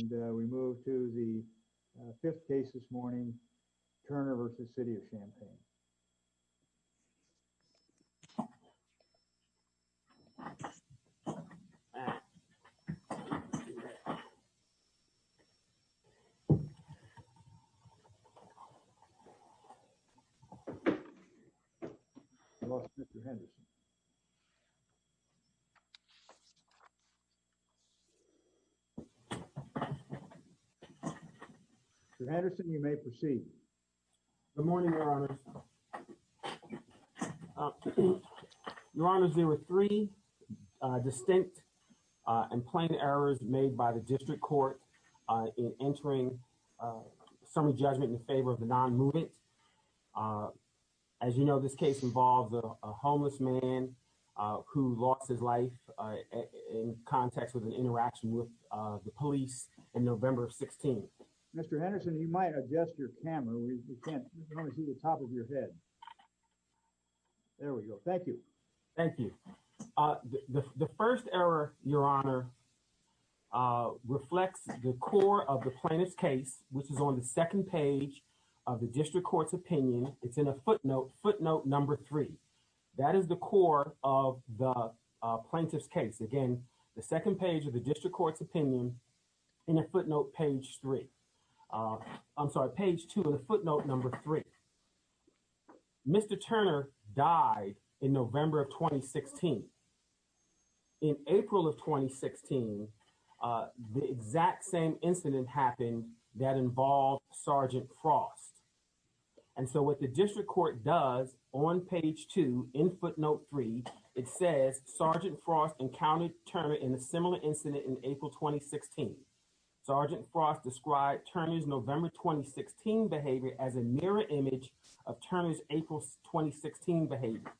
and we move to the fifth case this morning, Turner v. City of Champaign. I lost Mr. Henderson. Mr. Henderson, you may proceed. Good morning, Your Honors. Your Honors, there were three distinct and plain errors made by the district court in entering a summary judgment in favor of the non-movement. As you know, this case involves a homeless man who lost his life in context with an interaction with the police on November 16th. Mr. Henderson, you might adjust your camera. We can't see the top of your head. There we go. Thank you. Thank you. The first error, Your Honor, reflects the core of the plaintiff's case, which is on the second page of the district court's opinion. It's in a footnote, footnote number three. That is the core of the plaintiff's case. Again, the second page of the district court's opinion in a footnote, page three. I'm sorry, page two of the footnote number three. Mr. Turner died in November of 2016. In April of 2016, the exact same incident happened that involved Sergeant Frost. And so what the district court does on page two in footnote three, it says Sergeant Frost encountered Turner in a similar incident in April 2016. Sergeant Frost described Turner's November 2016 behavior as a mirror image of Turner's April 2016 behavior.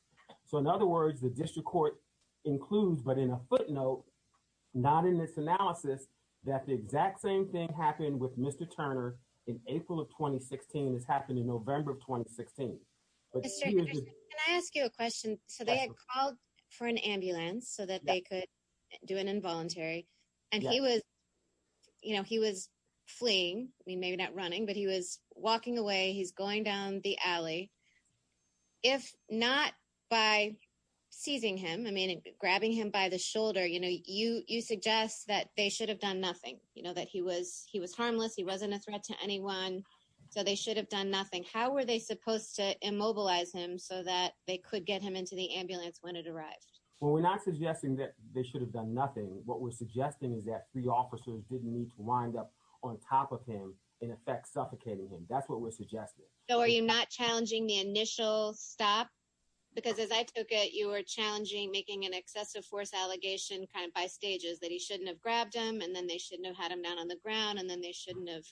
So in other words, the district court includes, but in a footnote, not in this analysis, that the exact same thing happened with Mr. Turner in April of 2016 as happened in November of 2016. Mr. Anderson, can I ask you a question? So they had called for an ambulance so that they could do an involuntary. And he was, you know, he was fleeing. I mean, maybe not running, but he was walking away. He's going down the alley. If not by seizing him, I mean, grabbing him by the shoulder, you know, you suggest that they should have done nothing. You know that he was he was harmless. He wasn't a threat to anyone. So they should have done nothing. How were they supposed to immobilize him so that they could get him into the ambulance when it arrived? Well, we're not suggesting that they should have done nothing. What we're suggesting is that three officers didn't need to wind up on top of him, in effect, suffocating him. That's what we're suggesting. So are you not challenging the initial stop? Because as I took it, you were challenging making an excessive force allegation kind of by stages that he shouldn't have grabbed him. And then they shouldn't have had him down on the ground. And then they shouldn't have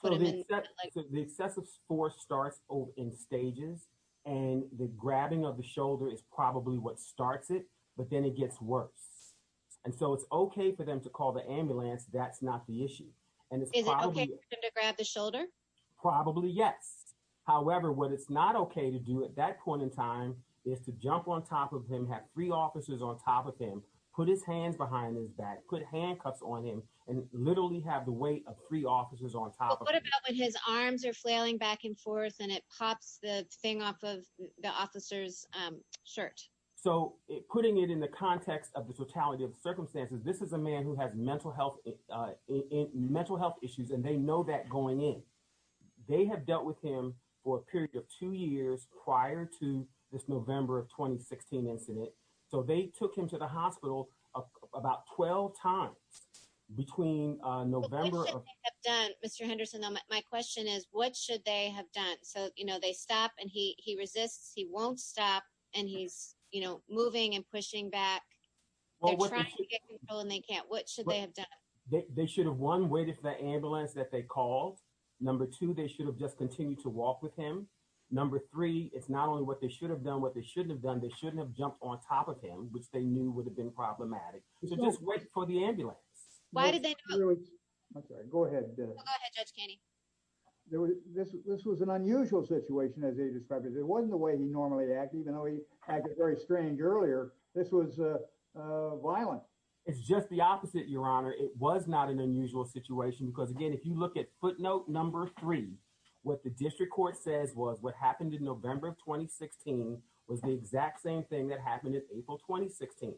put him in. So the excessive force starts in stages. And the grabbing of the shoulder is probably what starts it. But then it gets worse. And so it's okay for them to call the ambulance. That's not the issue. Is it okay for them to grab the shoulder? Probably, yes. However, what it's not okay to do at that point in time is to jump on top of him, have three officers on top of him, put his hands behind his back, put handcuffs on him, and literally have the weight of three officers on top of him. But what about when his arms are flailing back and forth and it pops the thing off of the officer's shirt? So putting it in the context of the totality of the circumstances, this is a man who has mental health issues, and they know that going in. They have dealt with him for a period of two years prior to this November of 2016 incident. So they took him to the hospital about 12 times between November of — What should they have done, Mr. Henderson? My question is, what should they have done? So, you know, they stop, and he resists. He won't stop. And he's, you know, moving and pushing back. They're trying to get control, and they can't. What should they have done? They should have, one, waited for the ambulance that they called. Number two, they should have just continued to walk with him. Number three, it's not only what they should have done, what they shouldn't have done. They shouldn't have jumped on top of him, which they knew would have been problematic. So just wait for the ambulance. Why did they not — I'm sorry. Go ahead. Go ahead, Judge Kenney. This was an unusual situation, as they described it. It wasn't the way he normally acted, even though he acted very strange earlier. This was violent. It's just the opposite, Your Honor. It was not an unusual situation because, again, if you look at footnote number three, what the district court says was what happened in November of 2016 was the exact same thing that happened in April 2016.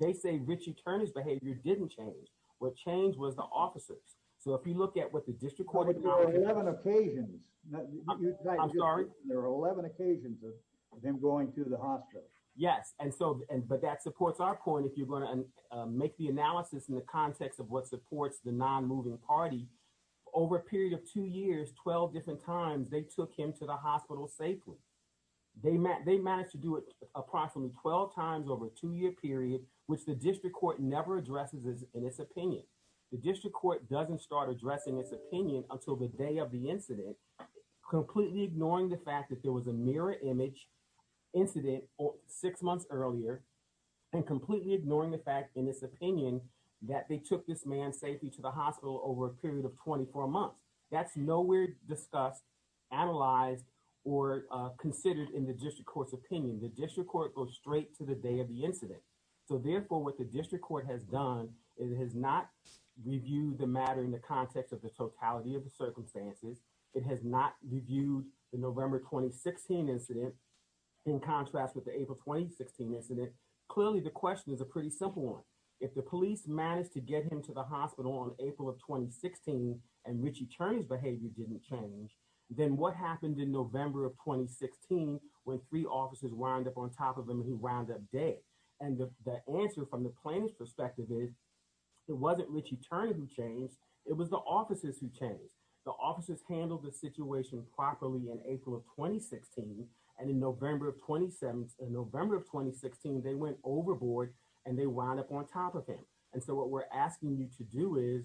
They say Richie Turner's behavior didn't change. What changed was the officer's. So if you look at what the district court — But there are 11 occasions. I'm sorry? There are 11 occasions of him going to the hospital. Yes, but that supports our point. If you're going to make the analysis in the context of what supports the non-moving party, over a period of two years, 12 different times, they took him to the hospital safely. They managed to do it approximately 12 times over a two-year period, which the district court never addresses in its opinion. The district court doesn't start addressing its opinion until the day of the incident, completely ignoring the fact that there was a mirror image incident six months earlier and completely ignoring the fact, in its opinion, that they took this man safely to the hospital over a period of 24 months. That's nowhere discussed, analyzed, or considered in the district court's opinion. The district court goes straight to the day of the incident. So, therefore, what the district court has done is it has not reviewed the matter in the context of the totality of the circumstances. It has not reviewed the November 2016 incident in contrast with the April 2016 incident. Clearly, the question is a pretty simple one. If the police managed to get him to the hospital in April of 2016 and Richie Turney's behavior didn't change, then what happened in November of 2016 when three officers wound up on top of him and he wound up dead? And the answer from the plaintiff's perspective is it wasn't Richie Turney who changed. It was the officers who changed. The officers handled the situation properly in April of 2016, and in November of 2016, they went overboard and they wound up on top of him. And so what we're asking you to do is,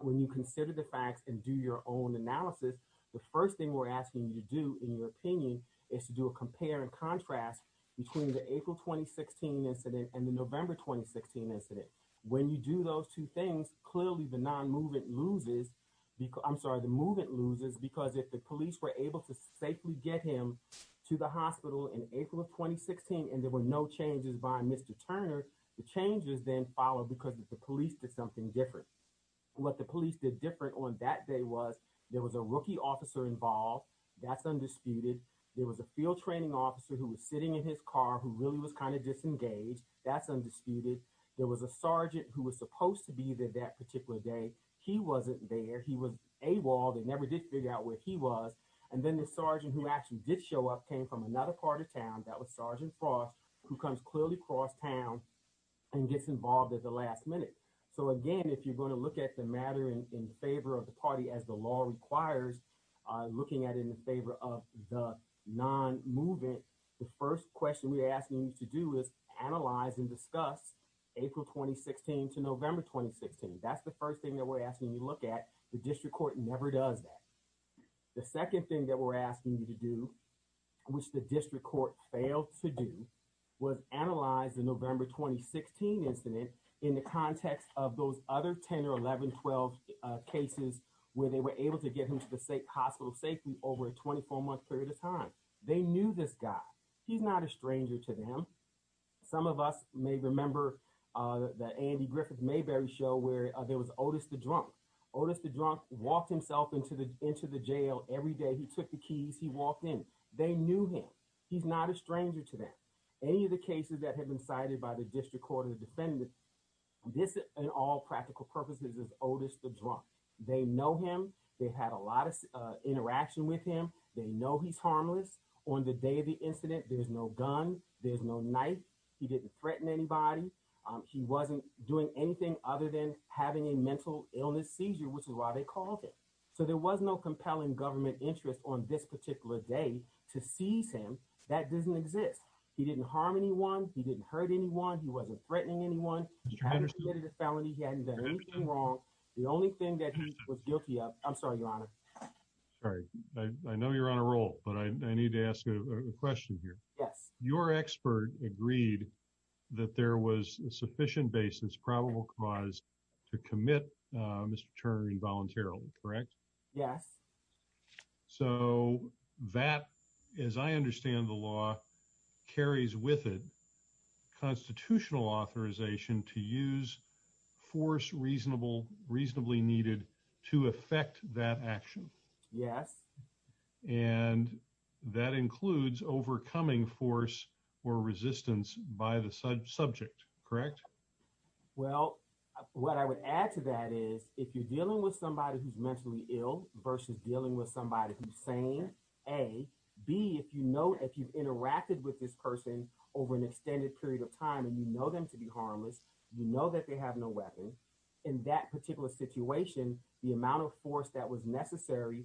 when you consider the facts and do your own analysis, the first thing we're asking you to do, in your opinion, is to do a compare and contrast between the April 2016 incident and the November 2016 incident. When you do those two things, clearly the non-movement loses. I'm sorry, the movement loses because if the police were able to safely get him to the hospital in April of 2016 and there were no changes by Mr. Turner, the changes then followed because the police did something different. What the police did different on that day was there was a rookie officer involved. That's undisputed. There was a field training officer who was sitting in his car who really was kind of disengaged. That's undisputed. There was a sergeant who was supposed to be there that particular day. He wasn't there. He was AWOL. They never did figure out where he was. And then the sergeant who actually did show up came from another part of town. That was Sergeant Frost, who comes clearly across town and gets involved at the last minute. So, again, if you're going to look at the matter in favor of the party as the law requires, looking at it in favor of the non-movement, the first question we're asking you to do is analyze and discuss April 2016 to November 2016. That's the first thing that we're asking you to look at. The district court never does that. The second thing that we're asking you to do, which the district court failed to do, was analyze the November 2016 incident in the context of those other 10 or 11, 12 cases where they were able to get him to the hospital safely over a 24-month period of time. They knew this guy. He's not a stranger to them. Some of us may remember the Andy Griffith Mayberry show where there was Otis the Drunk. Otis the Drunk walked himself into the jail every day. He took the keys. He walked in. They knew him. He's not a stranger to them. Any of the cases that have been cited by the district court or the defendant, this in all practical purposes is Otis the Drunk. They know him. They had a lot of interaction with him. They know he's harmless. On the day of the incident, there's no gun. There's no knife. He didn't threaten anybody. He wasn't doing anything other than having a mental illness seizure, which is why they called it. So there was no compelling government interest on this particular day to seize him. That doesn't exist. He didn't harm anyone. He didn't hurt anyone. He wasn't threatening anyone. He hadn't committed a felony. He hadn't done anything wrong. The only thing that he was guilty of – I'm sorry, Your Honor. Sorry. I know you're on a roll, but I need to ask you a question here. Yes. Your expert agreed that there was sufficient basis, probable cause, to commit Mr. Turner involuntarily, correct? Yes. So that, as I understand the law, carries with it constitutional authorization to use force reasonably needed to effect that action. Yes. And that includes overcoming force or resistance by the subject, correct? Well, what I would add to that is if you're dealing with somebody who's mentally ill versus dealing with somebody who's sane, A. B, if you know – if you've interacted with this person over an extended period of time and you know them to be harmless, you know that they have no weapon. In that particular situation, the amount of force that was necessary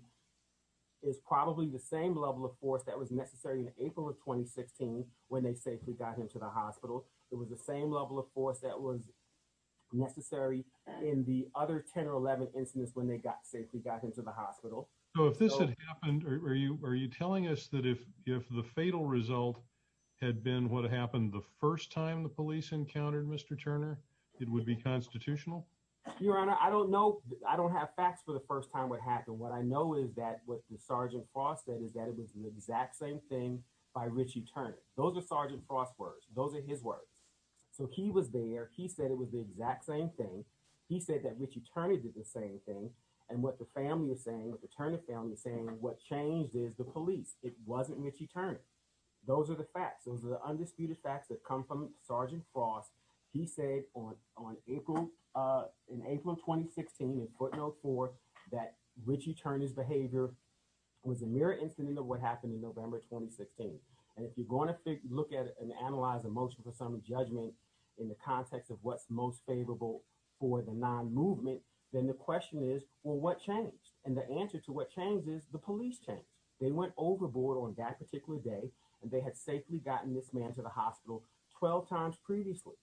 is probably the same level of force that was necessary in April of 2016 when they safely got him to the hospital. It was the same level of force that was necessary in the other 10 or 11 incidents when they safely got him to the hospital. So if this had happened, are you telling us that if the fatal result had been what happened the first time the police encountered Mr. Turner, it would be constitutional? Your Honor, I don't know. I don't have facts for the first time what happened. And what I know is that what Sergeant Frost said is that it was the exact same thing by Ritchie Turner. Those are Sergeant Frost's words. Those are his words. So he was there. He said it was the exact same thing. He said that Ritchie Turner did the same thing. And what the family is saying, what the Turner family is saying, what changed is the police. It wasn't Ritchie Turner. Those are the facts. Those are the undisputed facts that come from Sergeant Frost. He said in April 2016 in footnote 4 that Ritchie Turner's behavior was a mere incident of what happened in November 2016. And if you're going to look at it and analyze a motion for some judgment in the context of what's most favorable for the non-movement, then the question is, well, what changed? And the answer to what changed is the police changed. They went overboard on that particular day and they had safely gotten this man to the hospital 12 times previously.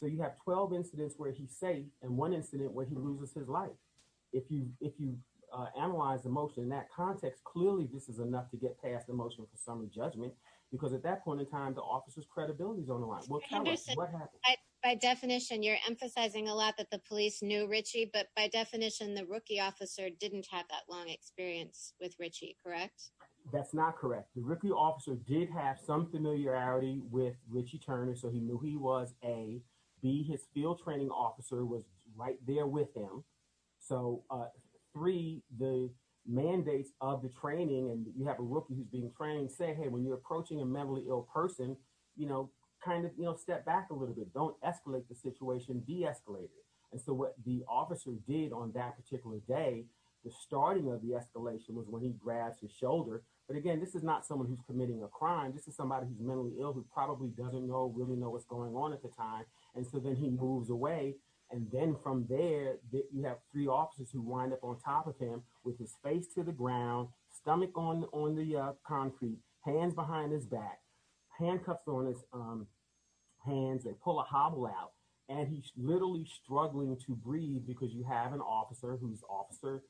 So you have 12 incidents where he's safe and one incident where he loses his life. If you analyze the motion in that context, clearly this is enough to get past the motion for summary judgment because at that point in time the officer's credibility is on the line. By definition, you're emphasizing a lot that the police knew Ritchie, but by definition, the rookie officer didn't have that long experience with Ritchie, correct? That's not correct. The rookie officer did have some familiarity with Ritchie Turner, so he knew he was A. B, his field training officer was right there with him. So three, the mandates of the training and you have a rookie who's being trained, say, hey, when you're approaching a mentally ill person, you know, kind of step back a little bit. Don't escalate the situation. De-escalate it. And so what the officer did on that particular day, the starting of the escalation was when he grabs his shoulder. But again, this is not someone who's committing a crime. This is somebody who's mentally ill who probably doesn't know, really know what's going on at the time. And so then he moves away. And then from there, you have three officers who wind up on top of him with his face to the ground, stomach on the concrete, hands behind his back, handcuffs on his hands. They pull a hobble out and he's literally struggling to breathe because you have an officer who's Officer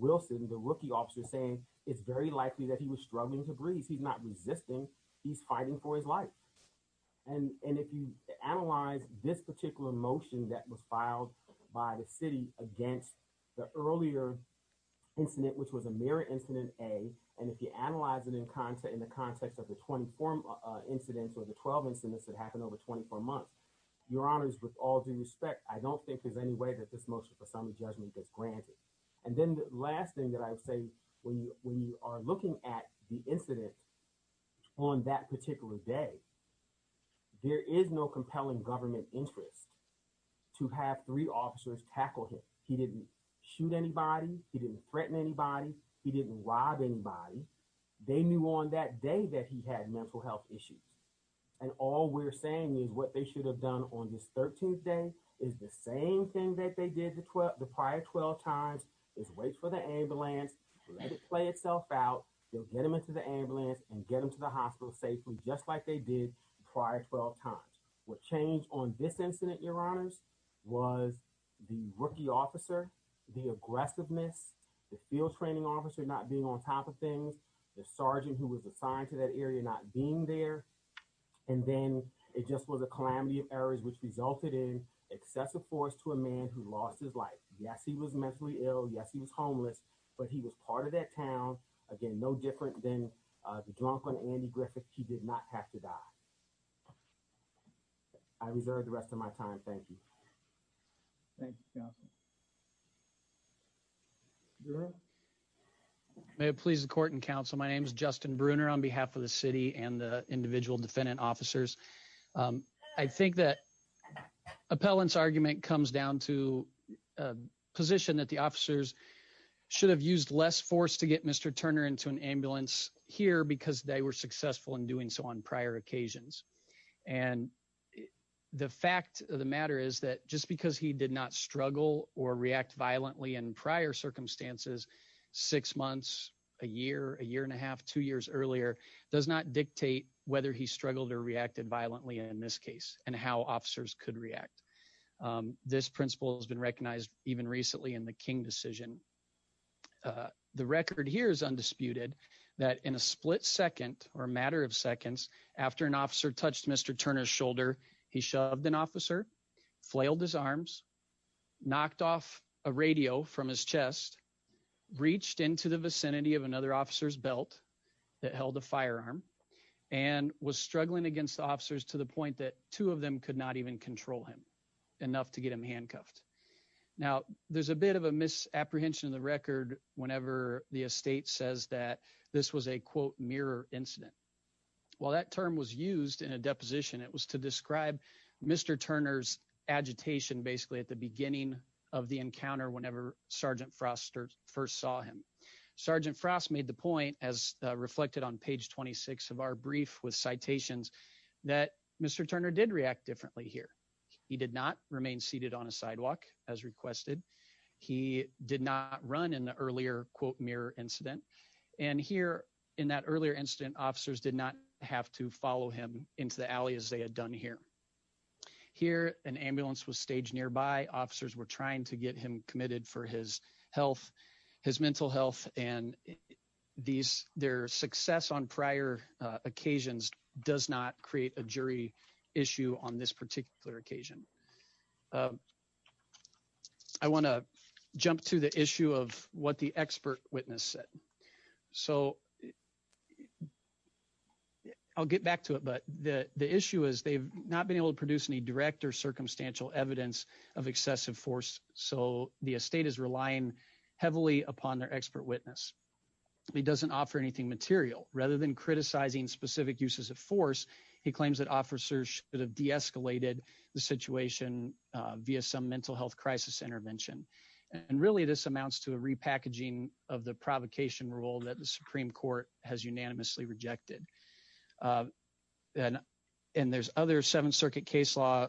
Wilson, the rookie officer, saying it's very likely that he was struggling to breathe. He's not resisting. He's fighting for his life. And if you analyze this particular motion that was filed by the city against the earlier incident, which was a mere incident A, and if you analyze it in the context of the 24 incidents or the 12 incidents that happened over 24 months, your honors, with all due respect, I don't think there's any way that this motion for summary judgment gets granted. And then the last thing that I would say, when you are looking at the incident on that particular day, there is no compelling government interest to have three officers tackle him. He didn't shoot anybody. He didn't threaten anybody. He didn't rob anybody. They knew on that day that he had mental health issues. And all we're saying is what they should have done on this 13th day is the same thing that they did the prior 12 times is wait for the ambulance, let it play itself out. You'll get them into the ambulance and get them to the hospital safely, just like they did prior 12 times. What changed on this incident, your honors, was the rookie officer, the aggressiveness, the field training officer not being on top of things, the sergeant who was assigned to that area not being there. And then it just was a calamity of errors which resulted in excessive force to a man who lost his life. Yes, he was mentally ill. Yes, he was homeless, but he was part of that town. Again, no different than the drunk on Andy Griffith. He did not have to die. I reserve the rest of my time. Thank you. Thank you. Thank you. May it please the court and counsel. My name is Justin Bruner on behalf of the city and the individual defendant officers. I think that appellants argument comes down to position that the officers should have used less force to get Mr. Turner into an ambulance here because they were successful in doing so on prior occasions. And the fact of the matter is that just because he did not struggle or react violently in prior circumstances, six months, a year, a year and a half, two years earlier, does not dictate whether he struggled or reacted violently in this case, and how officers could react. This principle has been recognized, even recently in the king decision. The record here is undisputed that in a split second or matter of seconds after an officer touched Mr. Turner's shoulder, he shoved an officer flailed his arms, knocked off a radio from his chest, reached into the vicinity of another officer's belt that held a firearm and was struggling against officers to the point that two of them could not even control him enough to get him handcuffed. Now, there's a bit of a misapprehension in the record, whenever the estate says that this was a quote mirror incident. While that term was used in a deposition, it was to describe Mr. Turner's agitation basically at the beginning of the encounter whenever Sergeant Frost first saw him. Sergeant Frost made the point as reflected on page 26 of our brief with citations that Mr. Turner did react differently here. He did not remain seated on a sidewalk as requested. He did not run in the earlier quote mirror incident. And here in that earlier incident officers did not have to follow him into the alley as they had done here. Here, an ambulance was staged nearby officers were trying to get him committed for his health, his mental health, and these, their success on prior occasions, does not create a jury issue on this particular occasion. I want to jump to the issue of what the expert witness said. So, I'll get back to it but the issue is they've not been able to produce any direct or circumstantial evidence of excessive force. So, the estate is relying heavily upon their expert witness. He doesn't offer anything material. Rather than criticizing specific uses of force, he claims that officers should have deescalated the situation via some mental health crisis intervention. And really this amounts to a repackaging of the provocation rule that the Supreme Court has unanimously rejected. And there's other Seventh Circuit case law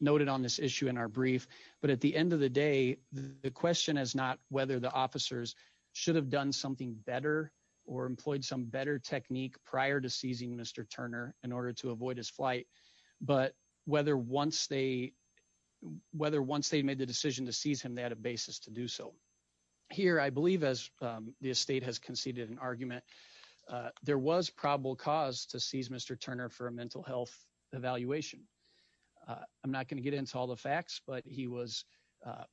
noted on this issue in our brief. But at the end of the day, the question is not whether the officers should have done something better or employed some better technique prior to seizing Mr. Turner in order to avoid his flight. But whether once they made the decision to seize him they had a basis to do so. Here, I believe as the estate has conceded an argument, there was probable cause to seize Mr. Turner for a mental health evaluation. I'm not going to get into all the facts but he was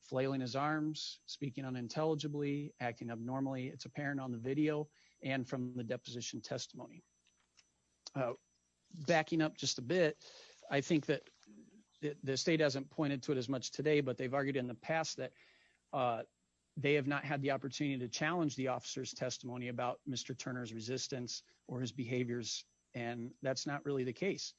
flailing his arms, speaking unintelligibly, acting abnormally. It's apparent on the video and from the deposition testimony. Backing up just a bit, I think that the state hasn't pointed to it as much today but they've argued in the past that they have not had the opportunity to challenge the officer's testimony about Mr. Turner's resistance or his behaviors and that's not really the case.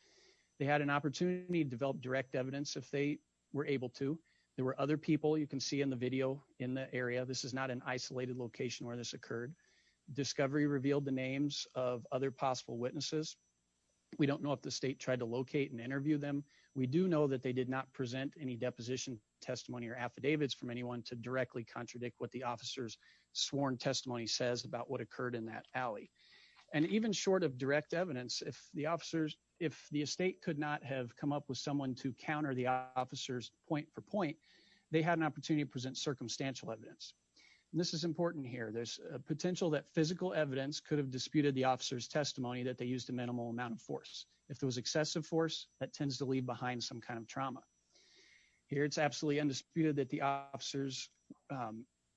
They had an opportunity to develop direct evidence if they were able to. There were other people you can see in the video in the area. This is not an isolated location where this occurred. Discovery revealed the names of other possible witnesses. We don't know if the state tried to locate and interview them. We do know that they did not present any deposition testimony or affidavits from anyone to directly contradict what the officer's sworn testimony says about what occurred in that alley. And even short of direct evidence, if the estate could not have come up with someone to counter the officer's point for point, they had an opportunity to present circumstantial evidence. This is important here. There's a potential that physical evidence could have disputed the officer's testimony that they used a minimal amount of force. If there was excessive force, that tends to leave behind some kind of trauma. Here it's absolutely undisputed that the officers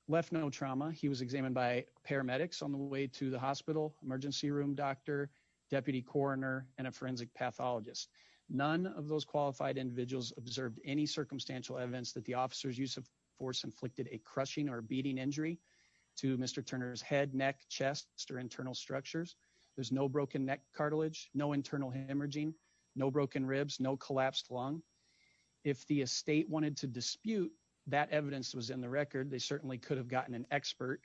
left no trauma. He was examined by paramedics on the way to the hospital, emergency room doctor, deputy coroner, and a forensic pathologist. None of those qualified individuals observed any circumstantial evidence that the officer's use of force inflicted a crushing or beating injury to Mr. Turner's head, neck, chest, or internal structures. There's no broken neck cartilage, no internal hemorrhaging, no broken ribs, no collapsed lung. If the estate wanted to dispute that evidence was in the record, they certainly could have gotten an expert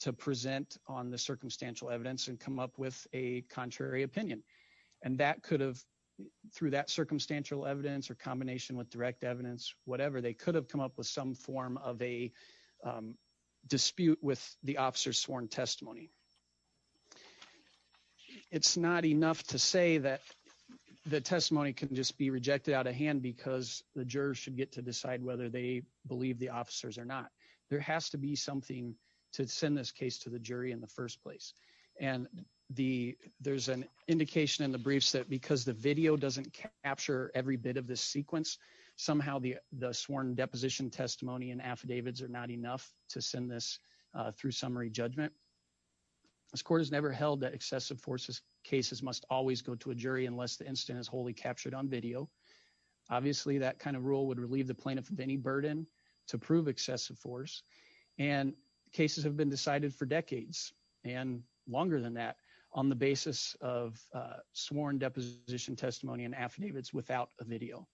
to present on the circumstantial evidence and come up with a contrary opinion. And that could have, through that circumstantial evidence or combination with direct evidence, whatever, they could have come up with some form of a dispute with the officer's sworn testimony. It's not enough to say that the testimony can just be rejected out of hand because the jurors should get to decide whether they believe the officers or not. There has to be something to send this case to the jury in the first place. And there's an indication in the briefs that because the video doesn't capture every bit of the sequence, somehow the sworn deposition testimony and affidavits are not enough to send this through summary judgment. This court has never held that excessive force cases must always go to a jury unless the incident is wholly captured on video. Obviously, that kind of rule would relieve the plaintiff of any burden to prove excessive force. And cases have been decided for decades and longer than that on the basis of sworn deposition testimony and affidavits without a video.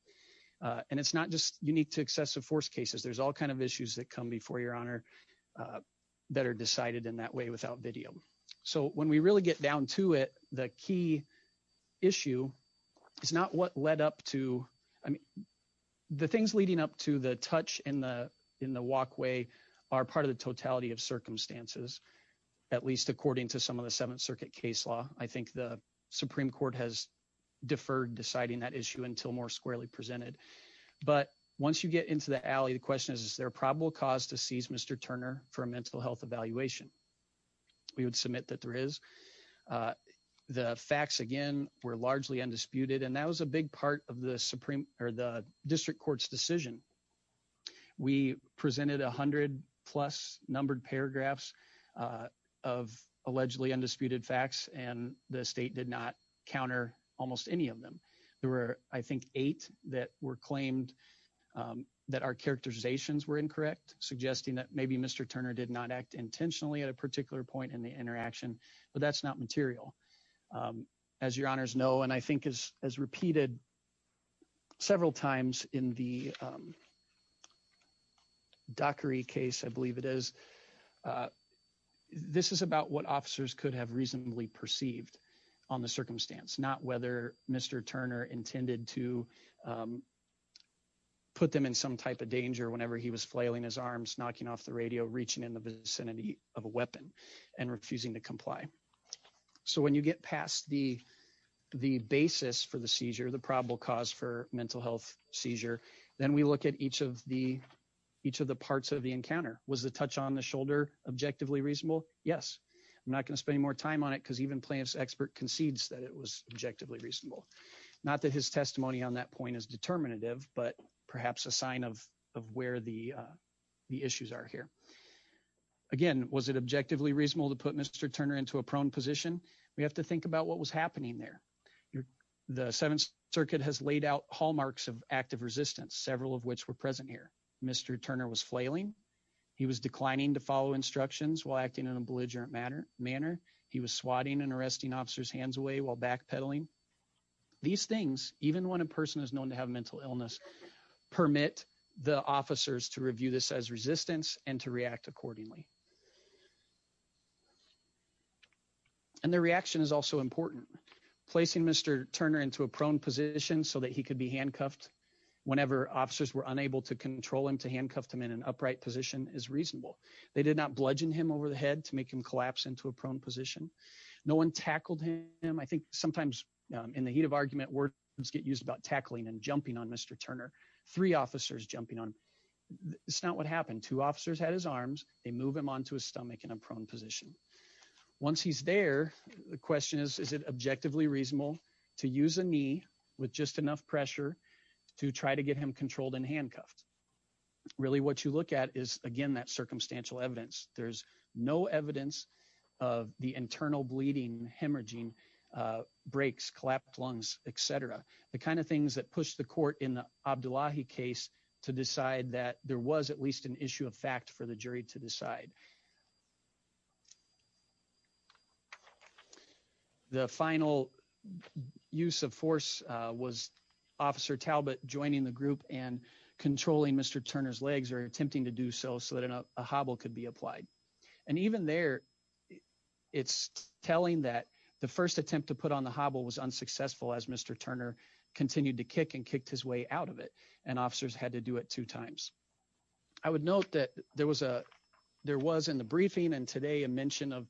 And it's not just unique to excessive force cases. There's all kind of issues that come before Your Honor that are decided in that way without video. So when we really get down to it, the key issue is not what led up to the things leading up to the touch in the walkway are part of the totality of circumstances, at least according to some of the Seventh Circuit case law. I think the Supreme Court has deferred deciding that issue until more squarely presented. But once you get into the alley, the question is, is there a probable cause to seize Mr. Turner for a mental health evaluation? We would submit that there is. The facts, again, were largely undisputed, and that was a big part of the Supreme or the district court's decision. We presented 100 plus numbered paragraphs of allegedly undisputed facts, and the state did not counter almost any of them. There were, I think, eight that were claimed that our characterizations were incorrect, suggesting that maybe Mr. Turner did not act intentionally at a particular point in the interaction, but that's not material. As your honors know, and I think is as repeated several times in the dockery case, I believe it is. This is about what officers could have reasonably perceived on the circumstance, not whether Mr. And refusing to comply. So when you get past the basis for the seizure, the probable cause for mental health seizure, then we look at each of the parts of the encounter. Was the touch on the shoulder objectively reasonable? Yes. I'm not going to spend any more time on it because even plaintiff's expert concedes that it was objectively reasonable. Not that his testimony on that point is determinative, but perhaps a sign of where the issues are here. Again, was it objectively reasonable to put Mr. Turner into a prone position? We have to think about what was happening there. The Seventh Circuit has laid out hallmarks of active resistance, several of which were present here. Mr. Turner was flailing. He was declining to follow instructions while acting in a belligerent manner. He was swatting and arresting officers hands away while backpedaling. These things, even when a person is known to have a mental illness, permit the officers to review this as resistance and to react accordingly. And the reaction is also important. Placing Mr. Turner into a prone position so that he could be handcuffed whenever officers were unable to control him to handcuff them in an upright position is reasonable. They did not bludgeon him over the head to make him collapse into a prone position. No one tackled him. I think sometimes in the heat of argument, words get used about tackling and jumping on Mr. Turner. Three officers jumping on him. That's not what happened. Two officers had his arms. They move him onto his stomach in a prone position. Once he's there, the question is, is it objectively reasonable to use a knee with just enough pressure to try to get him controlled and handcuffed? Really, what you look at is, again, that circumstantial evidence. There's no evidence of the internal bleeding, hemorrhaging, breaks, collapsed lungs, etc. The kind of things that push the court in the Abdullahi case to decide that there was at least an issue of fact for the jury to decide. The final use of force was Officer Talbot joining the group and controlling Mr. Turner's legs or attempting to do so so that a hobble could be applied. And even there, it's telling that the first attempt to put on the hobble was unsuccessful as Mr. Turner continued to kick and kicked his way out of it. And officers had to do it two times. I would note that there was a there was in the briefing and today a mention of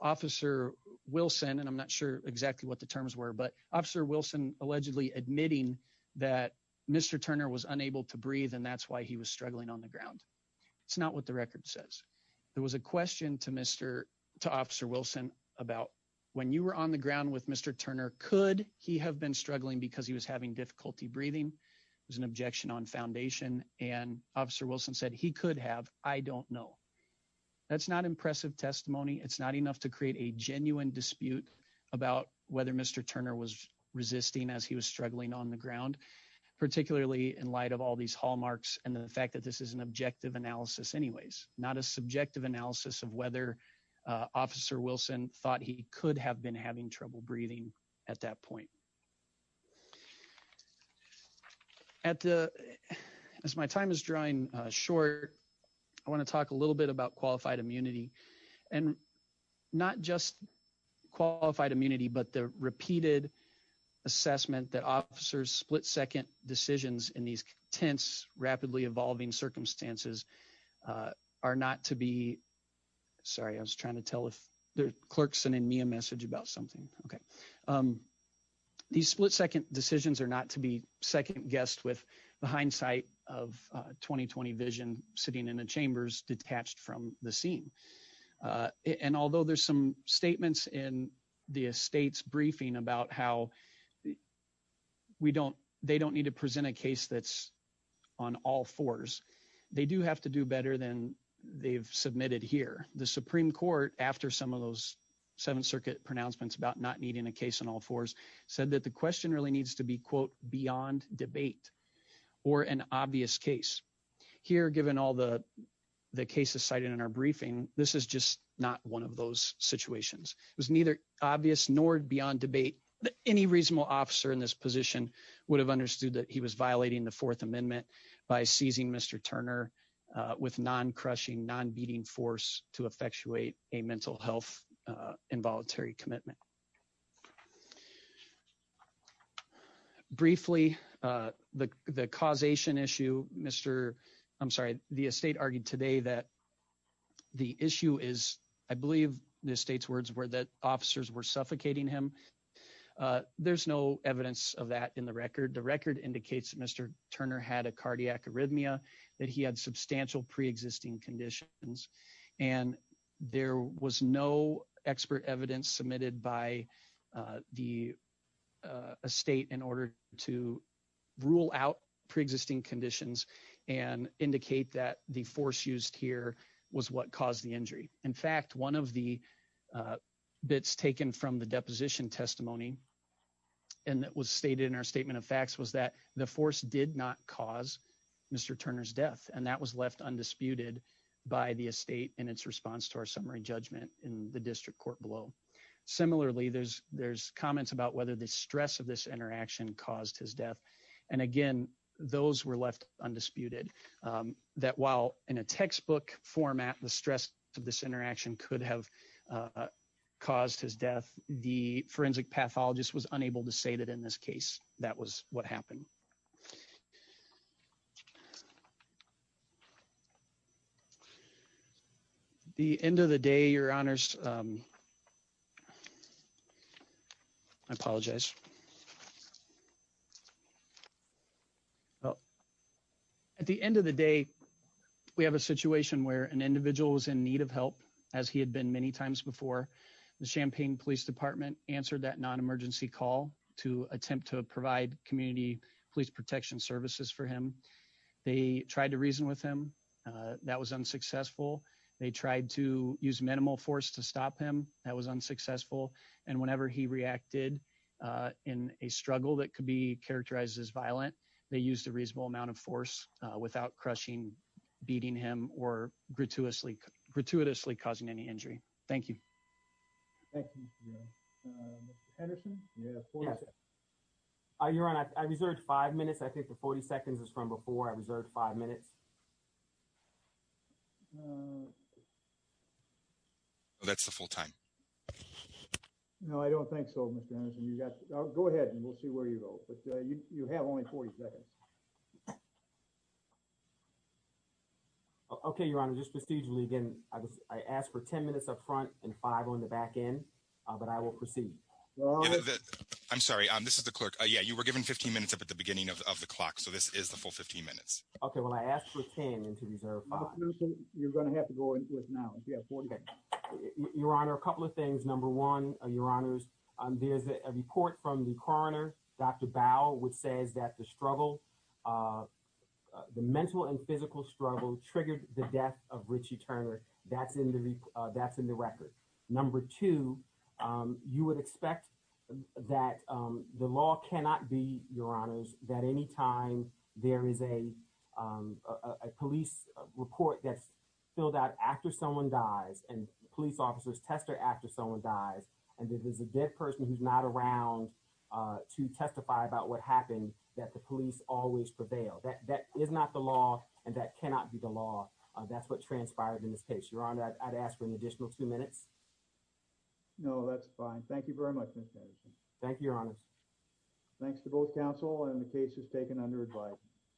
Officer Wilson, and I'm not sure exactly what the terms were. But Officer Wilson allegedly admitting that Mr. Turner was unable to breathe, and that's why he was struggling on the ground. It's not what the record says. There was a question to Mr. To Officer Wilson about when you were on the ground with Mr. Turner, could he have been struggling because he was having difficulty breathing? There was an objection on foundation and Officer Wilson said he could have. I don't know. That's not impressive testimony. It's not enough to create a genuine dispute about whether Mr. Turner was resisting as he was struggling on the ground, particularly in light of all these hallmarks and the fact that this is an objective analysis. Anyways, not a subjective analysis of whether Officer Wilson thought he could have been having trouble breathing at that point. At the as my time is drying short, I want to talk a little bit about qualified immunity and not just qualified immunity, but the repeated assessment that officers split second decisions in these tense, rapidly evolving circumstances. Are not to be sorry. I was trying to tell if the clerk sending me a message about something. Okay. These split second decisions are not to be second guessed with the hindsight of 2020 vision sitting in the chambers detached from the scene. And although there's some statements in the Estates briefing about how we don't they don't need to present a case that's on all fours. They do have to do better than they've submitted here. The Supreme Court after some of those seventh circuit pronouncements about not needing a case on all fours said that the question really needs to be quote beyond debate or an obvious case here given all the cases cited in our briefing. This is just not one of those situations was neither obvious nor beyond debate that any reasonable officer in this position would have understood that he was violating the Fourth Amendment by seizing Mr. Turner with non crushing non beating force to effectuate a mental health involuntary commitment. Briefly, the, the causation issue, Mr. I'm sorry, the estate argued today that the issue is, I believe, the state's words were that officers were suffocating him. There's no evidence of that in the record. The record indicates Mr. Turner had a cardiac arrhythmia that he had substantial pre existing conditions, and there was no expert evidence submitted by the state in order to rule out pre existing conditions and indicate that the force used here was what caused the injury. In fact, one of the bits taken from the deposition testimony, and that was stated in our statement of facts was that the force did not cause Mr. Turner's death and that was left undisputed by the estate and its response to our summary judgment in the district court below. Similarly, there's, there's comments about whether the stress of this interaction caused his death. And again, those were left undisputed that while in a textbook format, the stress of this interaction could have caused his death, the forensic pathologist was unable to say that in this case, that was what happened. The end of the day, your honors. I apologize. Well, at the end of the day, we have a situation where an individual is in need of help, as he had been many times before the Champaign Police Department answered that non emergency call to attempt to provide community police protection services for him. They tried to reason with him. That was unsuccessful. They tried to use minimal force to stop him. That was unsuccessful. And whenever he reacted in a struggle that could be characterized as violent, they used a reasonable amount of force without crushing beating him or gratuitously gratuitously causing any injury. Thank you. Henderson. Your honor, I reserved five minutes I think the 40 seconds is from before I reserved five minutes. That's the full time. No, I don't think so. Go ahead and we'll see where you go, but you have only 40 seconds. Okay, your honor, just procedurally again, I asked for 10 minutes up front and five on the back end, but I will proceed. I'm sorry, this is the clerk. Yeah, you were given 15 minutes up at the beginning of the clock. So this is the full 15 minutes. Okay, well, I asked for 10 and to reserve. You're going to have to go with now. Your honor, a couple of things. Number one, your honors, there's a report from the coroner, Dr. Bauer, which says that the struggle, the mental and physical struggle triggered the death of Richie Turner. That's in the that's in the record. Number two, you would expect that the law cannot be, your honors, that anytime there is a police report that's filled out after someone dies and police officers tester after someone dies. And if there's a dead person who's not around to testify about what happened, that the police always prevail, that that is not the law, and that cannot be the law. That's what transpired in this case. Your honor, I'd ask for an additional two minutes. No, that's fine. Thank you very much. Thank you, your honors. Thanks to both counsel and the case is taken under advice.